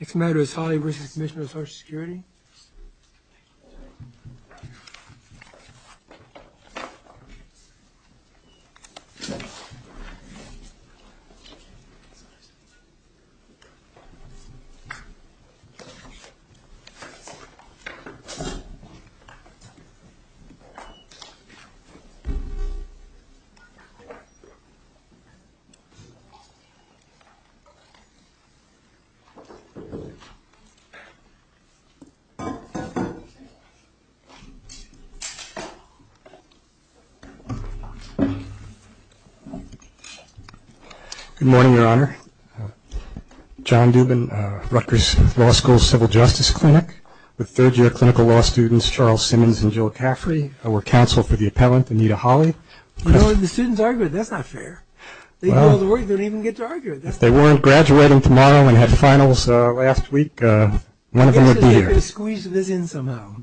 Next matter is Holley v. Commissioner of Social Security Good morning, Your Honor. John Dubin, Rutgers Law School Civil Justice Clinic with third-year clinical law students Charles Simmons and Jill Caffrey. I work counsel for the appellant Anita Holley. You know, the students argue that that's not fair. They go to work, they don't even get to argue. If they weren't graduating tomorrow and had finals last week, one of them would be here. You have to squeeze this in somehow.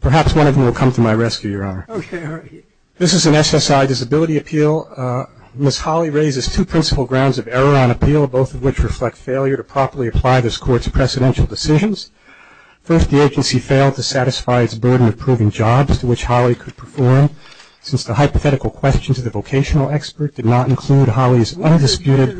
Perhaps one of them will come to my rescue, Your Honor. Okay, all right. This is an SSI disability appeal. Ms. Holley raises two principal grounds of error on appeal, both of which reflect failure to properly apply this Court's precedential decisions. First, the agency failed to satisfy its burden of proving jobs to which Holley could perform since the hypothetical questions of the vocational expert did not include Holley's undisputed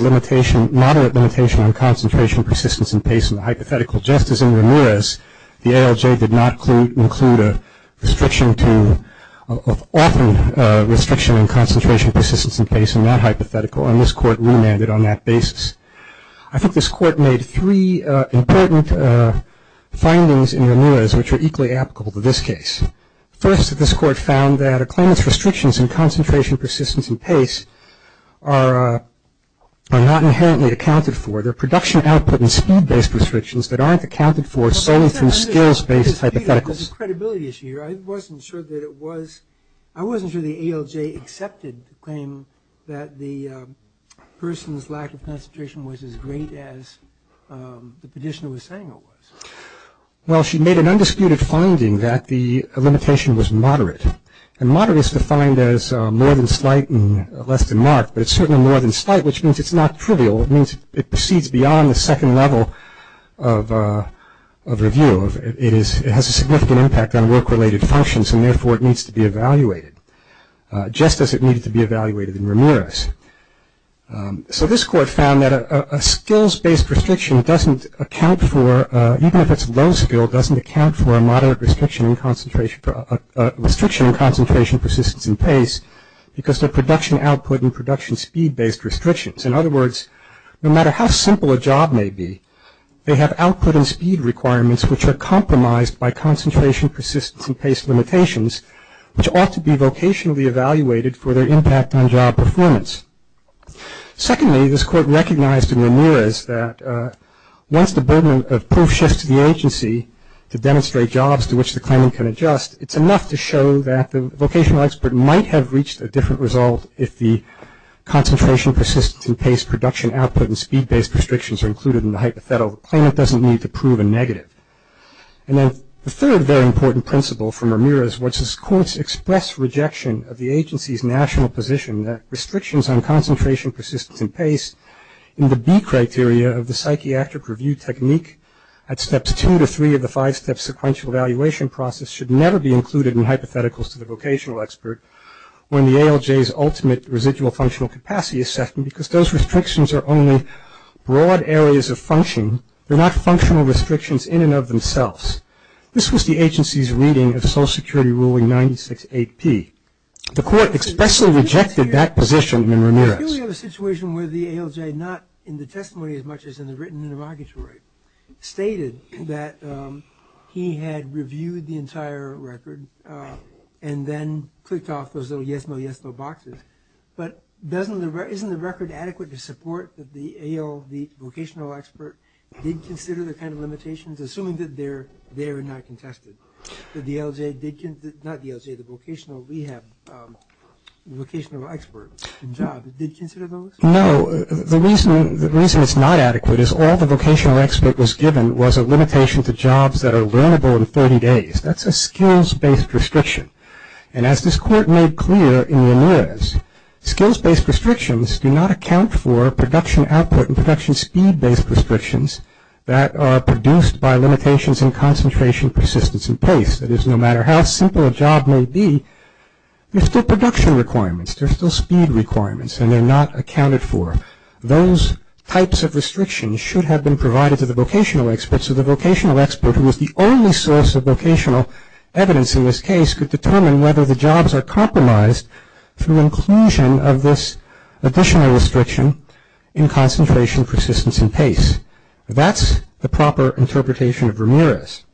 limitation, moderate limitation, on concentration, persistence, and pace in the hypothetical. Just as in Ramirez, the ALJ did not include a restriction to, often a restriction in concentration, persistence, and pace in that hypothetical, and this Court remanded on that basis. important findings in Ramirez which are equally applicable to this case. First, this Court found that a claimant's restrictions in concentration, persistence, and pace are not inherently accounted for. They're production output and speed-based restrictions that aren't accounted for solely through skills-based hypotheticals. I wasn't sure the ALJ accepted the claim that the person's lack of concentration was as great as the petitioner was saying it was. Well, she made an undisputed finding that the limitation was moderate, and moderate is defined as more than slight and less than marked, but it's certainly more than slight, which means it's not trivial. It means it proceeds beyond the second level of review. It has a significant impact on work-related functions, and therefore it needs to be evaluated, just as it needed to be evaluated in Ramirez. So this Court found that a skills-based restriction doesn't account for, even if it's a low skill, doesn't account for a moderate restriction in concentration, restriction in concentration, persistence, and pace because they're production output and production speed-based restrictions. In other words, no matter how simple a job may be, they have output and speed requirements which are compromised by concentration, persistence, and pace limitations which ought to be vocationally evaluated for their impact on job performance. Secondly, this Court recognized in Ramirez that once the burden of proof shifts to the agency to demonstrate jobs to which the claimant can adjust, it's enough to show that the vocational expert might have reached a different result if the concentration, persistence, and pace production output and speed-based restrictions are included in the hypothetical. The claimant doesn't need to prove a negative. And then the third very important principle from Ramirez was this Court's express rejection of the agency's national position that restrictions on concentration, persistence, and pace in the B criteria of the psychiatric review technique at steps two to three of the five-step sequential evaluation process should never be included in hypotheticals to the vocational expert when the ALJ's ultimate residual functional capacity assessment because those restrictions are only broad areas of function. They're not functional restrictions in and of themselves. This was the agency's reading of Social Security Ruling 96-8-P. The Court expressly rejected that position in Ramirez. We have a situation where the ALJ, not in the testimony as much as in the written interrogatory, stated that he had reviewed the entire record and then clicked off those little yes, no, yes, no boxes. But isn't the record adequate to support that the AL, the vocational expert, did consider the kind of limitations, assuming that they're there and not contested? That the ALJ did, not the ALJ, the vocational rehab, vocational expert job, did consider those? No. The reason it's not adequate is all the vocational expert was given was a limitation to jobs that are learnable in 30 days. That's a skills-based restriction. And as this Court made clear in Ramirez, skills-based restrictions do not account for production output and production speed-based restrictions that are produced by limitations in concentration, persistence, and pace. That is, no matter how simple a job may be, there's still production requirements, there's still speed requirements, and they're not accounted for. Those types of restrictions should have been provided to the vocational experts, so the vocational expert, who was the only source of vocational evidence in this case, could determine whether the jobs are compromised through inclusion of this additional restriction in concentration, persistence, and pace. That's the proper interpretation of Ramirez.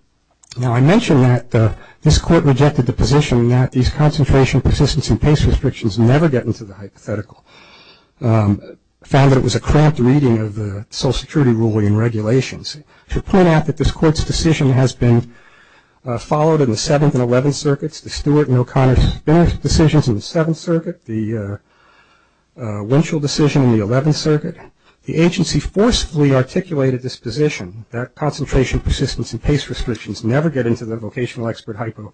Now, I mentioned that this Court rejected the position that these concentration, persistence, and pace restrictions never get into the hypothetical, found that it was a cramped reading of the Social Security ruling and regulations. I should point out that this Court's decision has been followed in the 7th and 11th Circuits, the Stewart and O'Connor decisions in the 7th Circuit, the Winchell decision in the 11th Circuit. The agency forcefully articulated this position, that concentration, persistence, and pace restrictions never get into the vocational expert hypo.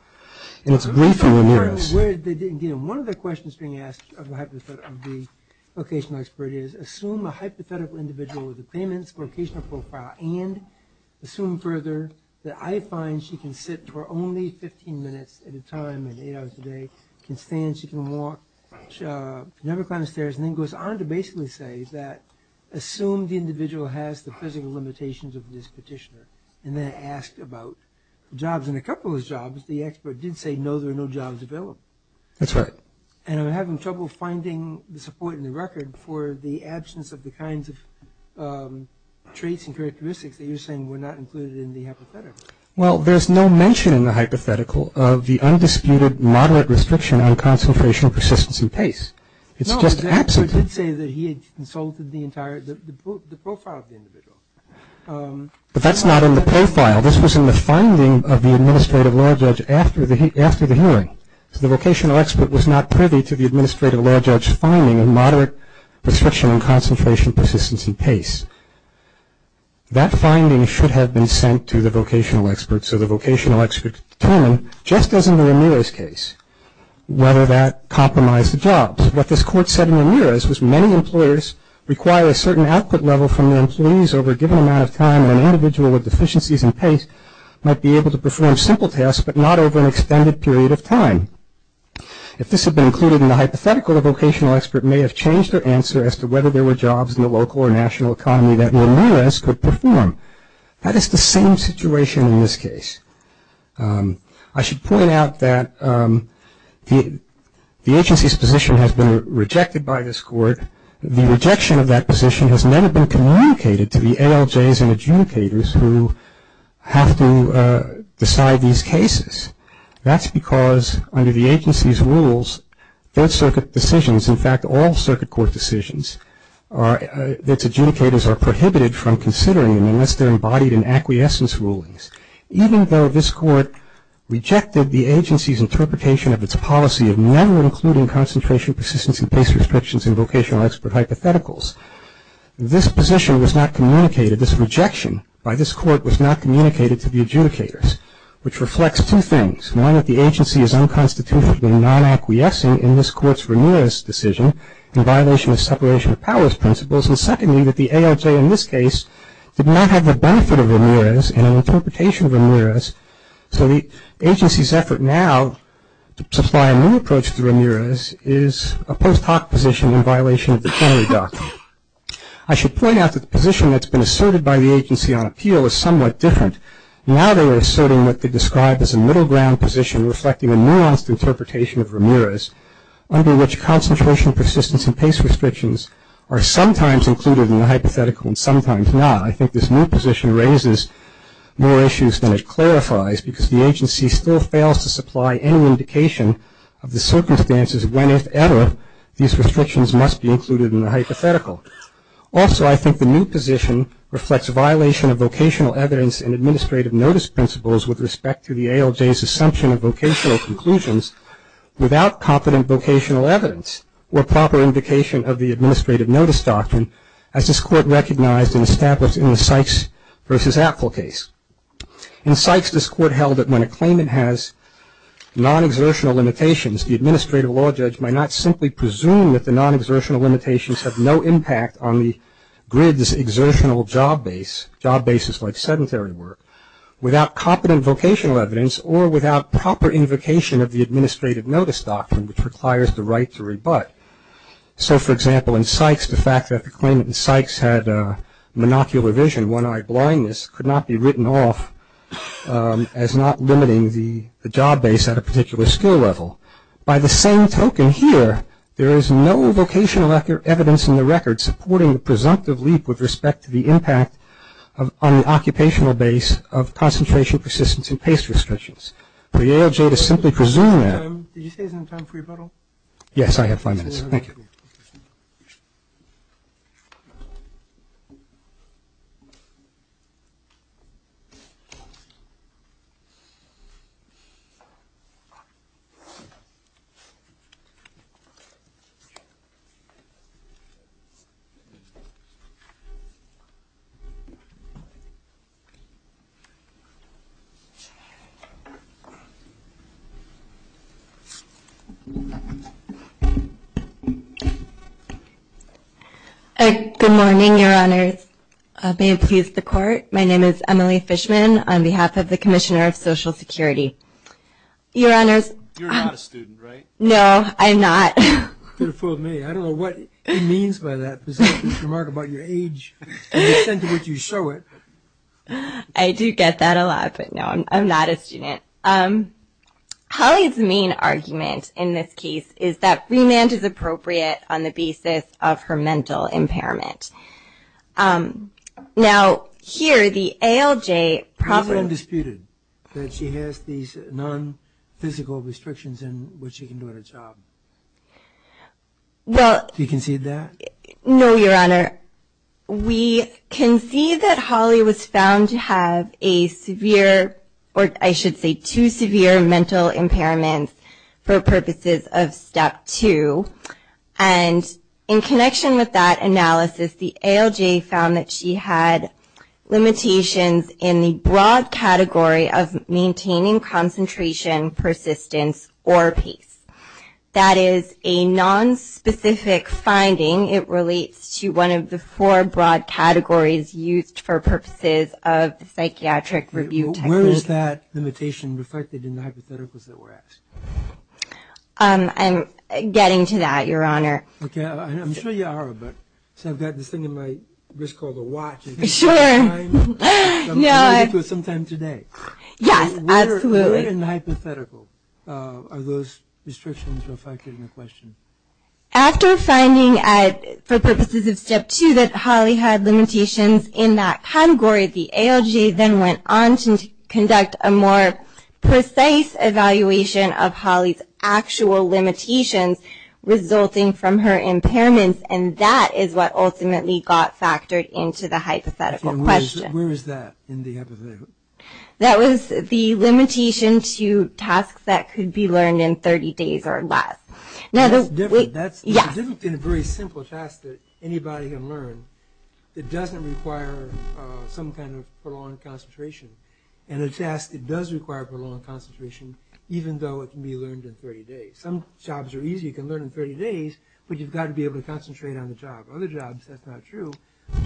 And it's briefly Ramirez. One of the questions being asked of the vocational expert is, assume a hypothetical individual with a claimant's vocational profile, and assume further that I find she can sit for only 15 minutes at a time and eight hours a day, can stand, she can walk, never climb stairs, and then goes on to basically say that assume the individual has the physical limitations of this petitioner, and then ask about jobs. And a couple of those jobs, the expert did say, no, there are no jobs available. That's right. And I'm having trouble finding the support in the record for the absence of the kinds of traits and characteristics that you're saying were not included in the hypothetical. Well, there's no mention in the hypothetical of the undisputed, moderate restriction on concentration, persistence, and pace. It's just absent. No, the expert did say that he had consulted the entire, the profile of the individual. But that's not in the profile. This was in the finding of the administrative law judge after the hearing. So the vocational expert was not privy to the administrative law judge's finding of moderate restriction on concentration, persistence, and pace. That finding should have been sent to the vocational expert, so the vocational expert could determine, just as in the Ramirez case, whether that compromised the jobs. What this court said in Ramirez was many employers require a certain output level from their employees over a given amount of time, and an individual with deficiencies in pace might be able to perform simple tasks, but not over an extended period of time. If this had been included in the hypothetical, the vocational expert may have changed their answer as to whether there were jobs in the local or national economy that Ramirez could perform. That is the same situation in this case. I should point out that the agency's position has been rejected by this court. The rejection of that position has never been communicated to the ALJs and adjudicators who have to decide these cases. That's because under the agency's rules, third circuit decisions, in fact, all circuit court decisions, its adjudicators are prohibited from considering them unless they're embodied in acquiescence rulings. Even though this court rejected the agency's interpretation of its policy of never including concentration, persistence, and pace restrictions in vocational expert hypotheticals, this position was not communicated, this rejection by this court was not communicated to the adjudicators, which reflects two things. One, that the agency is unconstitutionally non-acquiescing in this court's Ramirez decision in violation of separation of powers principles, and secondly, that the ALJ in this case did not have the benefit of Ramirez and an interpretation of Ramirez, so the agency's effort now to supply a new approach to Ramirez is a post hoc position in violation of the Fennery Doctrine. I should point out that the position that's been asserted by the agency on appeal is somewhat different. Now they are asserting what they described as a middle ground position reflecting a nuanced interpretation of Ramirez, under which concentration, persistence, and pace restrictions are sometimes included in the hypothetical and sometimes not. I think this new position raises more issues than it clarifies because the agency still fails to supply any indication of the circumstances when, if ever, these restrictions must be included in the hypothetical. Also, I think the new position reflects a violation of vocational evidence and administrative notice principles with respect to the ALJ's assumption of vocational conclusions without competent vocational evidence or proper indication of the administrative notice doctrine as this court recognized and established in the Sykes v. Apfel case. In Sykes, this court held that when a claimant has non-exertional limitations, the administrative law judge might not simply presume that the non-exertional limitations have no impact on the grid's exertional job base, job bases like sedentary work, without competent vocational evidence or without proper invocation of the administrative notice doctrine, which requires the right to rebut. So, for example, in Sykes, the fact that the claimant in Sykes had monocular vision, one-eyed blindness, could not be written off as not limiting the job base at a particular skill level. By the same token here, there is no vocational evidence in the record supporting the presumptive leap with respect to the impact on the occupational base of concentration, persistence, and pace restrictions. For the ALJ to simply presume that. Yes, I have five minutes. Good morning, your honors. May it please the court. My name is Emily Fishman on behalf of the Commissioner of Social Security. Your honors. You're not a student, right? No, I'm not. You could have fooled me. I don't know what it means by that remark about your age and the extent to which you show it. I do get that a lot, but no, I'm not a student. Holly's main argument in this case is that remand is appropriate on the basis of her mental impairment. Now, here, the ALJ probably. It's undisputed that she has these non-physical restrictions in which she can do her job. Do you concede that? No, your honor. We concede that Holly was found to have a severe, or I should say two severe mental impairments for purposes of step two, and in connection with that analysis, the ALJ found that she had limitations in the broad category of maintaining concentration, persistence, or pace. That is a nonspecific finding. It relates to one of the four broad categories used for purposes of the psychiatric review technique. Where is that limitation reflected in the hypotheticals that were asked? I'm getting to that, your honor. Okay. I'm sure you are, but I've got this thing in my wrist called a watch. Sure. I'm committed to it sometime today. Yes, absolutely. Where in the hypothetical are those restrictions reflected in the question? After finding for purposes of step two that Holly had limitations in that category, the ALJ then went on to conduct a more precise evaluation of Holly's actual limitations resulting from her impairments, and that is what ultimately got factored into the hypothetical question. Where is that in the hypothetical? That was the limitation to tasks that could be learned in 30 days or less. That's different. That's different than a very simple task that anybody can learn. It doesn't require some kind of prolonged concentration, and a task that does require prolonged concentration even though it can be learned in 30 days. Some jobs are easy, you can learn in 30 days, but you've got to be able to concentrate on the job. Other jobs, that's not true.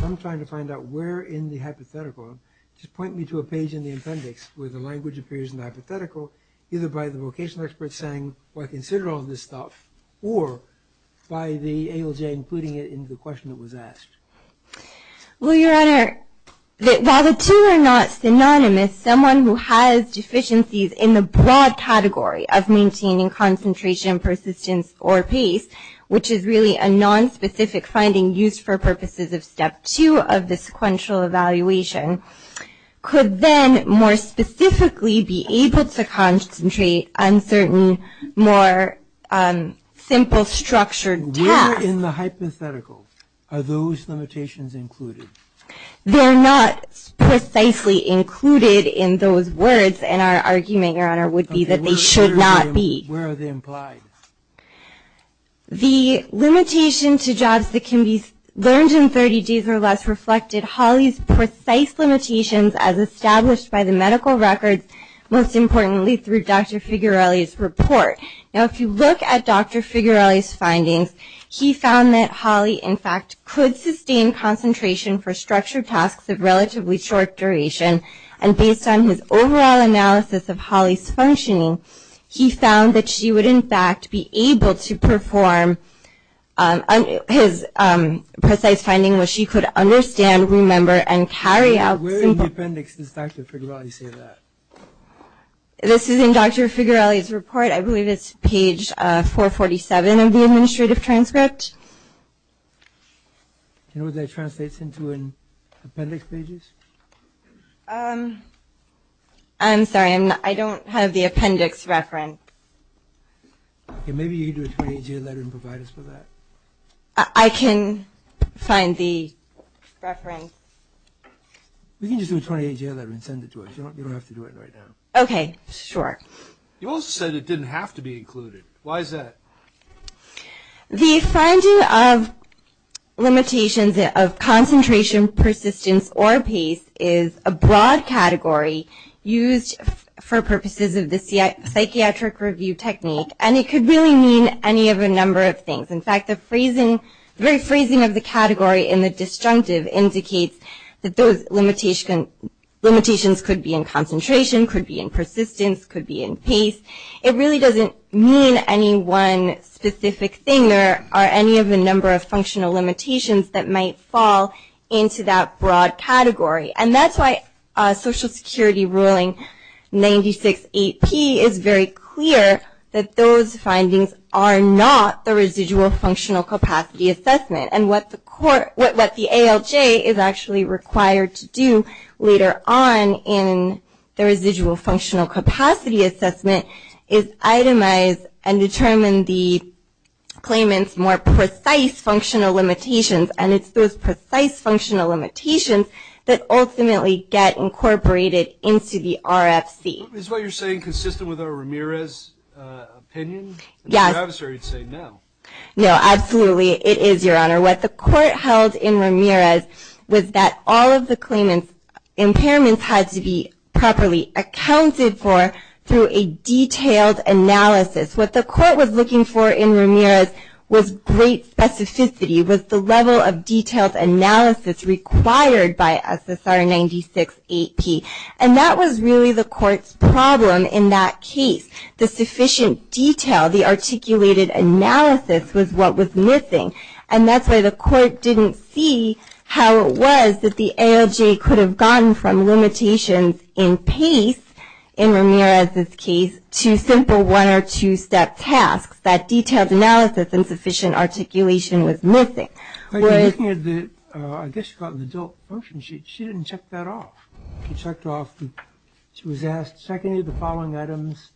I'm trying to find out where in the hypothetical. Just point me to a page in the appendix where the language appears in the hypothetical, either by the vocational expert saying, well, consider all this stuff, or by the ALJ including it in the question that was asked. Well, Your Honor, while the two are not synonymous, someone who has deficiencies in the broad category of maintaining concentration, persistence, or pace, which is really a nonspecific finding used for purposes of Step 2 of the sequential evaluation, could then more specifically be able to concentrate on certain more simple structured tasks. Where in the hypothetical are those limitations included? They're not precisely included in those words, and our argument, Your Honor, would be that they should not be. Where are they implied? The limitation to jobs that can be learned in 30 days or less reflected Hawley's precise limitations as established by the medical records, most importantly through Dr. Figarelli's report. Now, if you look at Dr. Figarelli's findings, he found that Hawley, in fact, could sustain concentration for structured tasks of relatively short duration, and based on his overall analysis of Hawley's functioning, he found that she would, in fact, be able to perform his precise finding, where she could understand, remember, and carry out simple... Where in the appendix does Dr. Figarelli say that? This is in Dr. Figarelli's report. I believe it's page 447 of the administrative transcript. You know what that translates into in appendix pages? I'm sorry. I don't have the appendix reference. Maybe you can do a 28-year letter and provide us with that. I can find the reference. We can just do a 28-year letter and send it to us. You don't have to do it right now. Okay. Sure. You also said it didn't have to be included. Why is that? The finding of limitations of concentration, persistence, or pace is a broad category used for purposes of the psychiatric review technique, and it could really mean any of a number of things. In fact, the phrasing of the category in the disjunctive indicates that those limitations could be in concentration, could be in persistence, could be in pace. It really doesn't mean any one specific thing or any of the number of functional limitations that might fall into that broad category. And that's why Social Security ruling 96-8P is very clear that those findings are not the residual functional capacity assessment. And what the ALJ is actually required to do later on in the residual functional capacity assessment is itemize and determine the claimant's more precise functional limitations, and it's those precise functional limitations that ultimately get incorporated into the RFC. Is what you're saying consistent with our Ramirez opinion? Yes. Or you'd say no. No, absolutely it is, Your Honor. What the court held in Ramirez was that all of the claimant's impairments had to be properly accounted for through a detailed analysis. What the court was looking for in Ramirez was great specificity, was the level of detailed analysis required by SSR 96-8P. And that was really the court's problem in that case. The sufficient detail, the articulated analysis was what was missing. And that's why the court didn't see how it was that the ALJ could have gotten from limitations in pace, in Ramirez's case, to simple one- or two-step tasks. That detailed analysis and sufficient articulation was missing. I guess you got the adult version. She didn't check that off. She was asked, check any of the following items,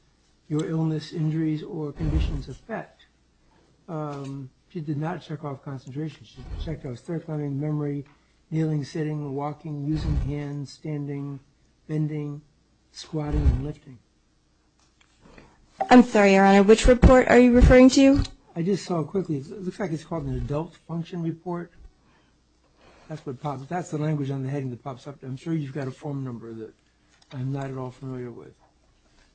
your illness, injuries, or conditions of effect. She did not check off concentrations. She checked off throat climbing, memory, kneeling, sitting, walking, using hands, standing, bending, squatting, and lifting. I'm sorry, Your Honor, which report are you referring to? I just saw it quickly. It looks like it's called an adult function report. That's the language on the heading that pops up. I'm sure you've got a form number that I'm not at all familiar with.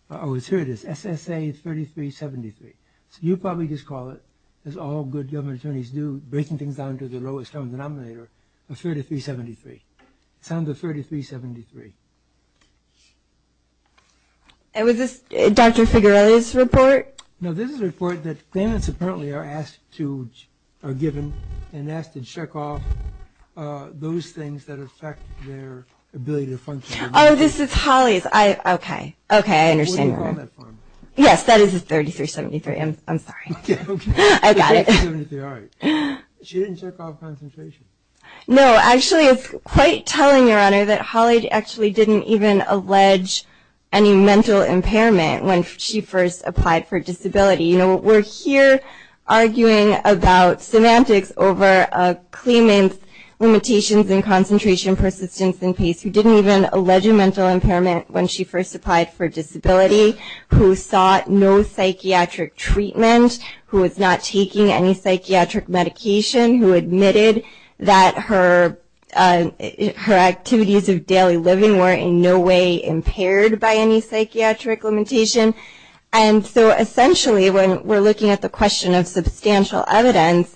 Oh, here it is, SSA 3373. So you probably just call it, as all good government attorneys do, breaking things down to the lowest common denominator, a 3373. It sounds like 3373. And was this Dr. Figarelli's report? No, this is a report that claimants apparently are asked to, are given, and asked to check off those things that affect their ability to function. Oh, this is Holly's. I, okay. Okay, I understand. What do you call that form? Yes, that is a 3373. I'm sorry. Okay, okay. I got it. 3373, all right. She didn't check off concentration. No, actually, it's quite telling, Your Honor, that Holly actually didn't even allege any mental impairment when she first applied for disability. You know, we're here arguing about semantics over a claimant's limitations in concentration, persistence, and pace who didn't even allege a mental impairment when she first applied for disability, who sought no psychiatric treatment, who was not taking any psychiatric medication, who admitted that her activities of daily living were in no way impaired by any psychiatric limitation. And so, essentially, when we're looking at the question of substantial evidence,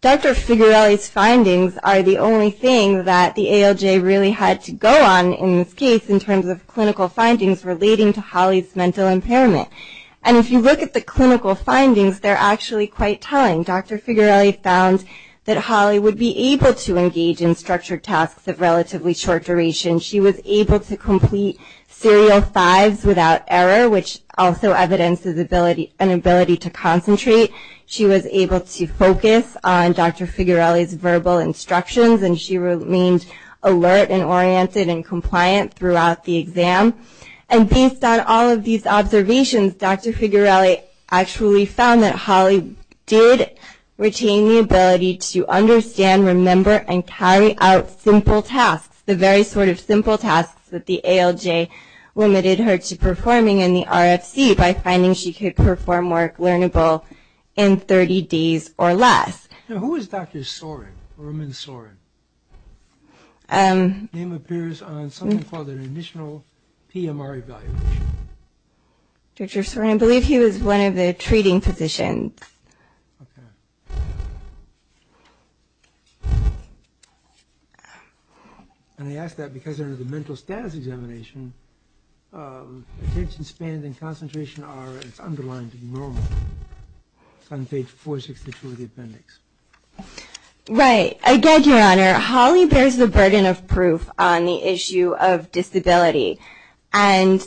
Dr. Figarelli's findings are the only thing that the ALJ really had to go on in this case in terms of clinical findings relating to Holly's mental impairment. And if you look at the clinical findings, they're actually quite telling. Dr. Figarelli found that Holly would be able to engage in structured tasks of relatively short duration. She was able to complete serial fives without error, which also evidences an ability to concentrate. She was able to focus on Dr. Figarelli's verbal instructions, and she remained alert and oriented and compliant throughout the exam. And based on all of these observations, Dr. Figarelli actually found that Holly did retain the ability to understand, remember, and carry out simple tasks, the very sort of simple tasks that the ALJ limited her to performing in the RFC by finding she could perform work learnable in 30 days or less. Now, who is Dr. Sorin, Roman Sorin? His name appears on something called an additional PMR evaluation. Dr. Sorin, I believe he was one of the treating physicians. Okay. And I ask that because under the mental status examination, attention span and concentration are as underlined in Roman on page 462 of the appendix. Right. Again, Your Honor, Holly bears the burden of proof on the issue of disability, and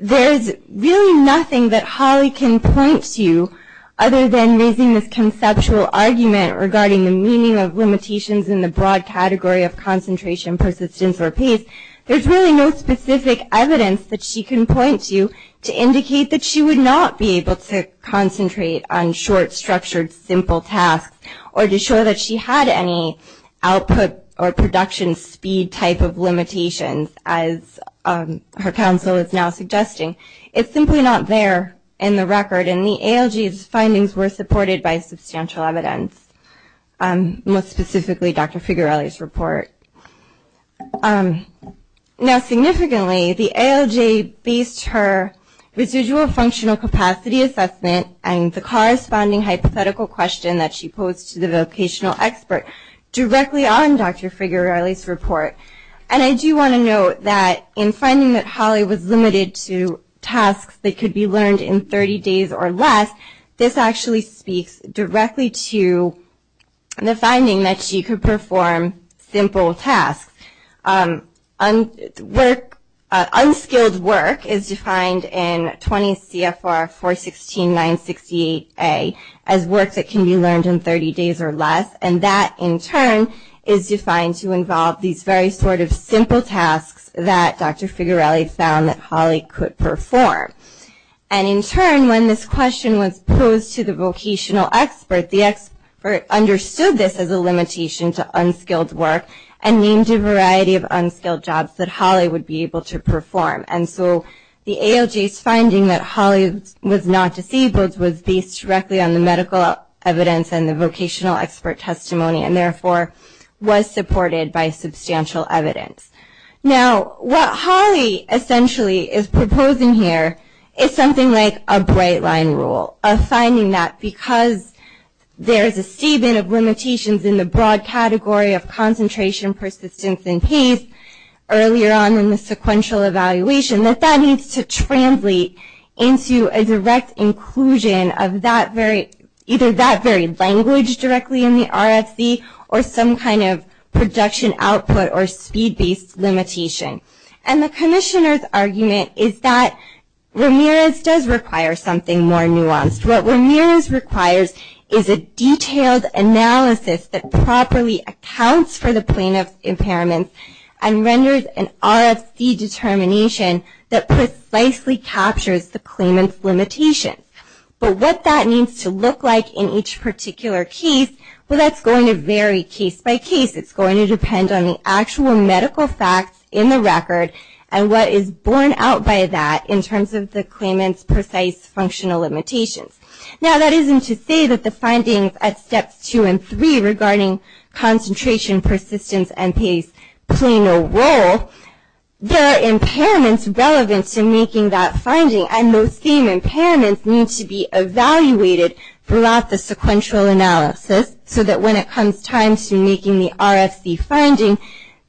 there is really nothing that Holly can point to other than raising this conceptual argument regarding the meaning of limitations in the broad category of concentration, persistence, or pace. There's really no specific evidence that she can point to to indicate that she would not be able to concentrate on short, structured, simple tasks or to show that she had any output or production speed type of limitations, as her counsel is now suggesting. It's simply not there in the record, and the ALJ's findings were supported by substantial evidence, most specifically Dr. Figarelli's report. Now, significantly, the ALJ based her residual functional capacity assessment and the corresponding hypothetical question that she posed to the vocational expert directly on Dr. Figarelli's report. And I do want to note that in finding that Holly was limited to tasks that could be learned in 30 days or less, this actually speaks directly to the finding that she could perform simple tasks. Unskilled work is defined in 20 CFR 416-968A as work that can be learned in 30 days or less, and that, in turn, is defined to involve these very sort of simple tasks that Dr. Figarelli found that Holly could perform. And in turn, when this question was posed to the vocational expert, the expert understood this as a limitation to unskilled work and named a variety of unskilled jobs that Holly would be able to perform. And so the ALJ's finding that Holly was not disabled was based directly on the medical evidence and the vocational expert testimony, and therefore was supported by substantial evidence. Now, what Holly essentially is proposing here is something like a bright line rule, a finding that because there is a statement of limitations in the broad category of concentration, persistence, and pace earlier on in the sequential evaluation, that that needs to translate into a direct inclusion of either that very language directly in the RFC or some kind of production output or speed-based limitation. And the commissioner's argument is that Ramirez does require something more nuanced. What Ramirez requires is a detailed analysis that properly accounts for the plaintiff's impairments and renders an RFC determination that precisely captures the claimant's limitations. But what that needs to look like in each particular case, well, that's going to vary case by case. It's going to depend on the actual medical facts in the record and what is borne out by that in terms of the claimant's precise functional limitations. Now, that isn't to say that the findings at steps two and three regarding concentration, persistence, and pace play no role. There are impairments relevant to making that finding, and those same impairments need to be evaluated throughout the sequential analysis so that when it comes time to making the RFC finding,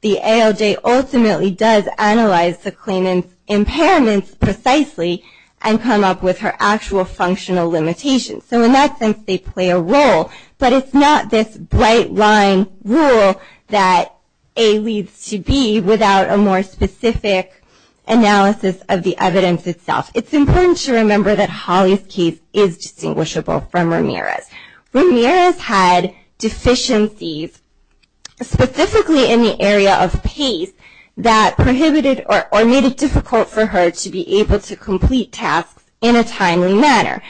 the ALJ ultimately does analyze the claimant's impairments precisely and come up with her actual functional limitations. So in that sense, they play a role. But it's not this bright-line rule that A leads to B without a more specific analysis of the evidence itself. It's important to remember that Holly's case is distinguishable from Ramirez. Ramirez had deficiencies specifically in the area of pace that prohibited or made it difficult for her to be able to complete tasks in a timely manner.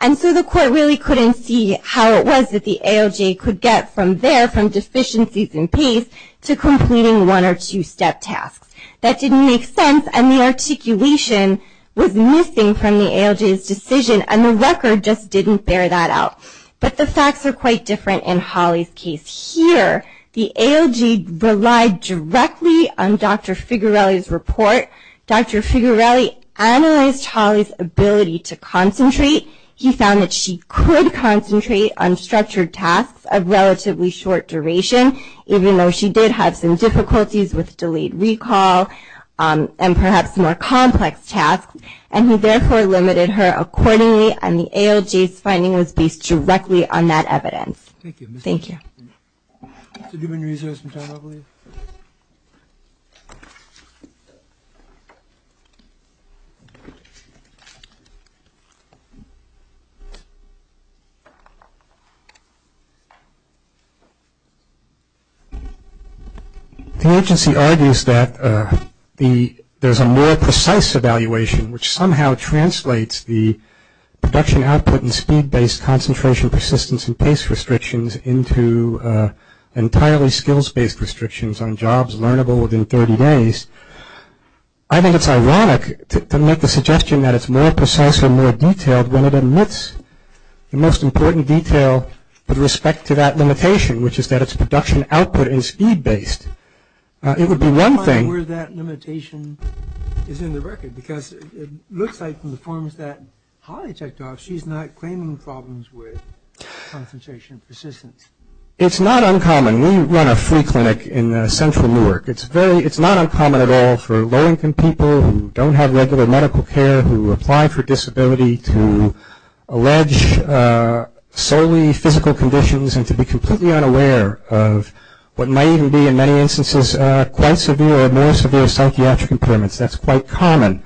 And so the court really couldn't see how it was that the ALJ could get from there, from deficiencies in pace, to completing one or two step tasks. That didn't make sense, and the articulation was missing from the ALJ's decision, and the record just didn't bear that out. But the facts are quite different in Holly's case. Here, the ALJ relied directly on Dr. Figarelli's report. Dr. Figarelli analyzed Holly's ability to concentrate. He found that she could concentrate on structured tasks of relatively short duration, even though she did have some difficulties with delayed recall and perhaps more complex tasks. And he therefore limited her accordingly, and the ALJ's finding was based directly on that evidence. Thank you. Thank you. The agency argues that there's a more precise evaluation, which somehow translates the production output and speed-based concentration, persistence, and pace restrictions into entirely skills-based restrictions on jobs learnable within 30 days. I think it's ironic to make the suggestion that it's more precise and more detailed when it omits the most important detail with respect to that limitation, which is that it's production output and speed-based. It would be one thing. Where that limitation is in the record, because it looks like from the forms that Holly checked off, she's not claiming problems with concentration and persistence. It's not uncommon. We run a free clinic in central Newark. It's not uncommon at all for low-income people who don't have regular medical care, who apply for disability to allege solely physical conditions and to be completely unaware of what might even be in many instances quite severe or more severe psychiatric impairments. That's quite common.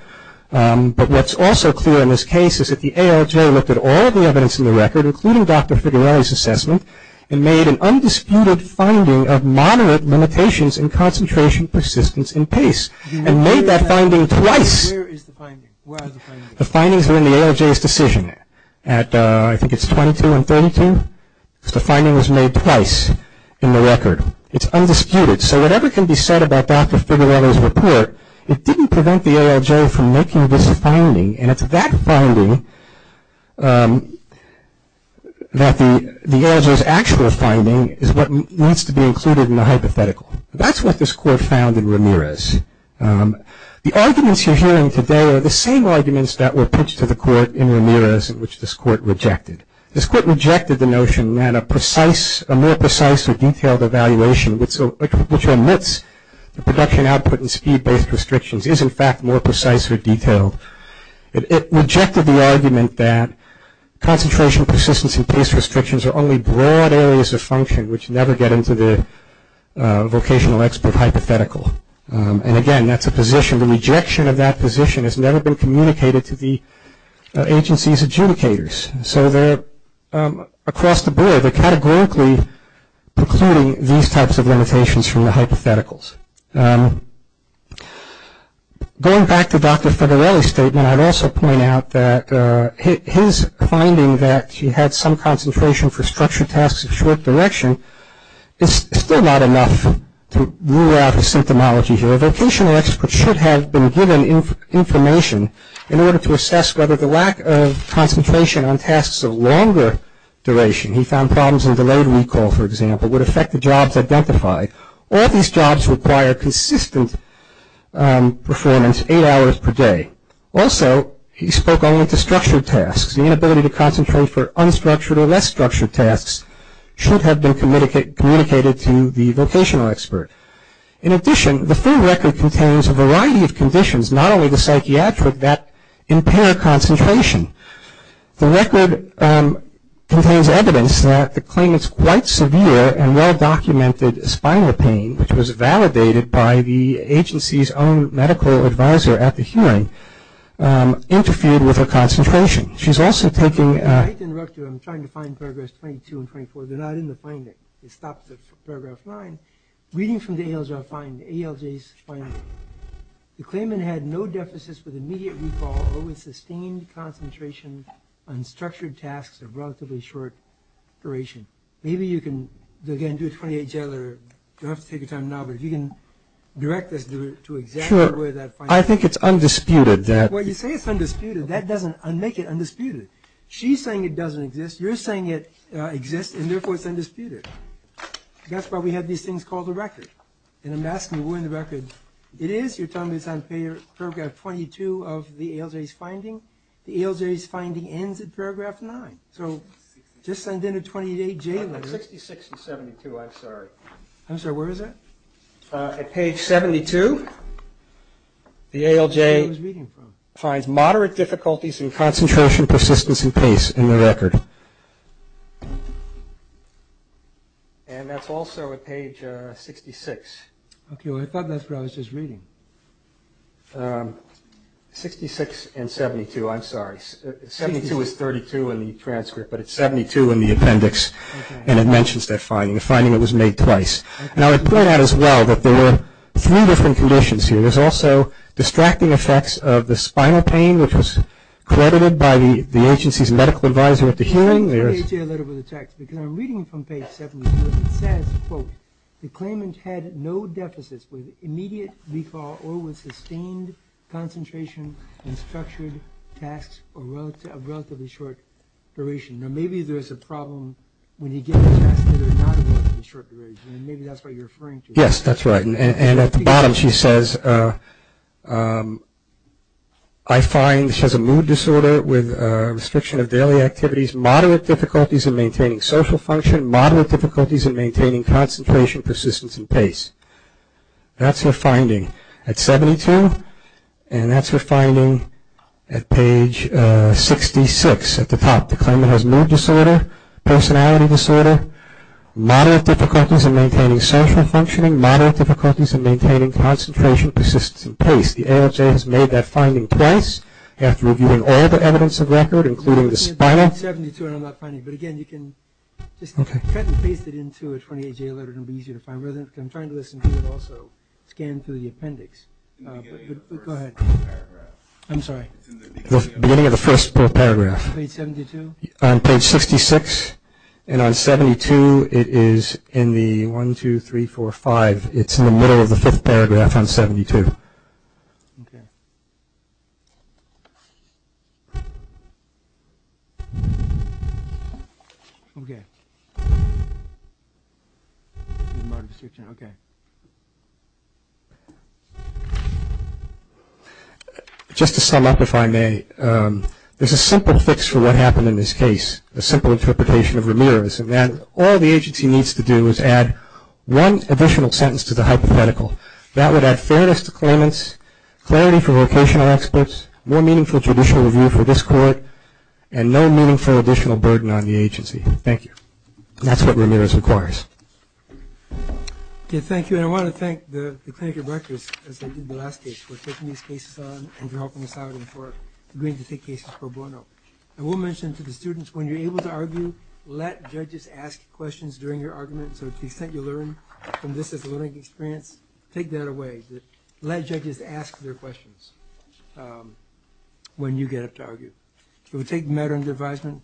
But what's also clear in this case is that the ALJ looked at all the evidence in the record, including Dr. Figarelli's assessment, and made an undisputed finding of moderate limitations in concentration, persistence, and pace, and made that finding twice. Where is the finding? Where is the finding? The findings are in the ALJ's decision. I think it's 22 and 32. The finding was made twice in the record. It's undisputed. So whatever can be said about Dr. Figarelli's report, it didn't prevent the ALJ from making this finding, and it's that finding that the ALJ's actual finding is what needs to be included in the hypothetical. That's what this court found in Ramirez. The arguments you're hearing today are the same arguments that were pitched to the court in Ramirez, which this court rejected. This court rejected the notion that a more precise or detailed evaluation, which omits the production output and speed-based restrictions, is, in fact, more precise or detailed. It rejected the argument that concentration, persistence, and pace restrictions are only broad areas of function, which never get into the vocational expert hypothetical. And, again, that's a position. The rejection of that position has never been communicated to the agency's adjudicators. So across the board, they're categorically precluding these types of limitations from the hypotheticals. Going back to Dr. Figarelli's statement, I'd also point out that his finding that he had some concentration for structured tasks of short direction is still not enough to rule out the symptomology here. A vocational expert should have been given information in order to assess whether the lack of concentration on tasks of longer duration, he found problems in delayed recall, for example, would affect the jobs identified. All these jobs require consistent performance, eight hours per day. Also, he spoke only to structured tasks. The inability to concentrate for unstructured or less structured tasks should have been communicated to the vocational expert. In addition, the firm record contains a variety of conditions, not only the psychiatric, that impair concentration. The record contains evidence that the claimant's quite severe and well-documented spinal pain, which was validated by the agency's own medical advisor at the hearing, interfered with her concentration. She's also taking – I'd like to interrupt you. I'm trying to find Paragraph 22 and 24. They're not in the finding. It stops at Paragraph 9. Reading from the ALJ's finding, the claimant had no deficits with immediate recall or with sustained concentration on structured tasks of relatively short duration. Maybe you can, again, do a 28-Jeller. You don't have to take your time now, but if you can direct us to exactly where that finding is. Sure. I think it's undisputed that – Well, you say it's undisputed. That doesn't make it undisputed. She's saying it doesn't exist. You're saying it exists, and therefore it's undisputed. That's why we have these things called a record. And I'm asking you where in the record it is. You're telling me it's on Paragraph 22 of the ALJ's finding? The ALJ's finding ends at Paragraph 9. So just send in a 28-Jeller. 66 and 72, I'm sorry. I'm sorry, where is that? At Page 72, the ALJ finds moderate difficulties in concentration, persistence, and pace in the record. And that's also at Page 66. Okay, well, I thought that's what I was just reading. 66 and 72, I'm sorry. 72 is 32 in the transcript, but it's 72 in the appendix. And it mentions that finding, the finding that was made twice. And I would point out as well that there were three different conditions here. There's also distracting effects of the spinal pain, which was credited by the agency's medical advisor at the hearing. Let me tell you a little bit of the text, because I'm reading from Page 72. It says, quote, the claimant had no deficits with immediate default or with sustained concentration and structured tasks of relatively short duration. Now maybe there's a problem when you get a task that is not relatively short duration. Maybe that's what you're referring to. Yes, that's right. And at the bottom she says, I find she has a mood disorder with restriction of daily activities, moderate difficulties in maintaining social function, moderate difficulties in maintaining concentration, persistence, and pace. That's her finding at 72, and that's her finding at Page 66 at the top. The claimant has mood disorder, personality disorder, moderate difficulties in maintaining social functioning, moderate difficulties in maintaining concentration, persistence, and pace. The AHA has made that finding twice after reviewing all the evidence of record, including the spinal. Page 72, and I'm not finding it. But, again, you can just cut and paste it into a 28-J letter. It will be easier to find. I'm trying to listen to it also scanned through the appendix. Go ahead. I'm sorry. Beginning of the first paragraph. Page 72? On Page 66. And on 72, it is in the 1, 2, 3, 4, 5. It's in the middle of the fifth paragraph on 72. Okay. Okay. Okay. Just to sum up, if I may, there's a simple fix for what happened in this case, a simple interpretation of Ramirez. And all the agency needs to do is add one additional sentence to the hypothetical. That would add fairness to claimants, clarity for vocational experts, more meaningful judicial review for this court, and no meaningful additional burden on the agency. Thank you. That's what Ramirez requires. Okay, thank you. And I want to thank the clinical directors, as they did in the last case, for taking these cases on and for helping us out and for agreeing to take cases pro bono. I will mention to the students, when you're able to argue, let judges ask questions during your argument. So to the extent you learn from this as a learning experience, take that away. Let judges ask their questions when you get up to argue. It would take matter and advisement.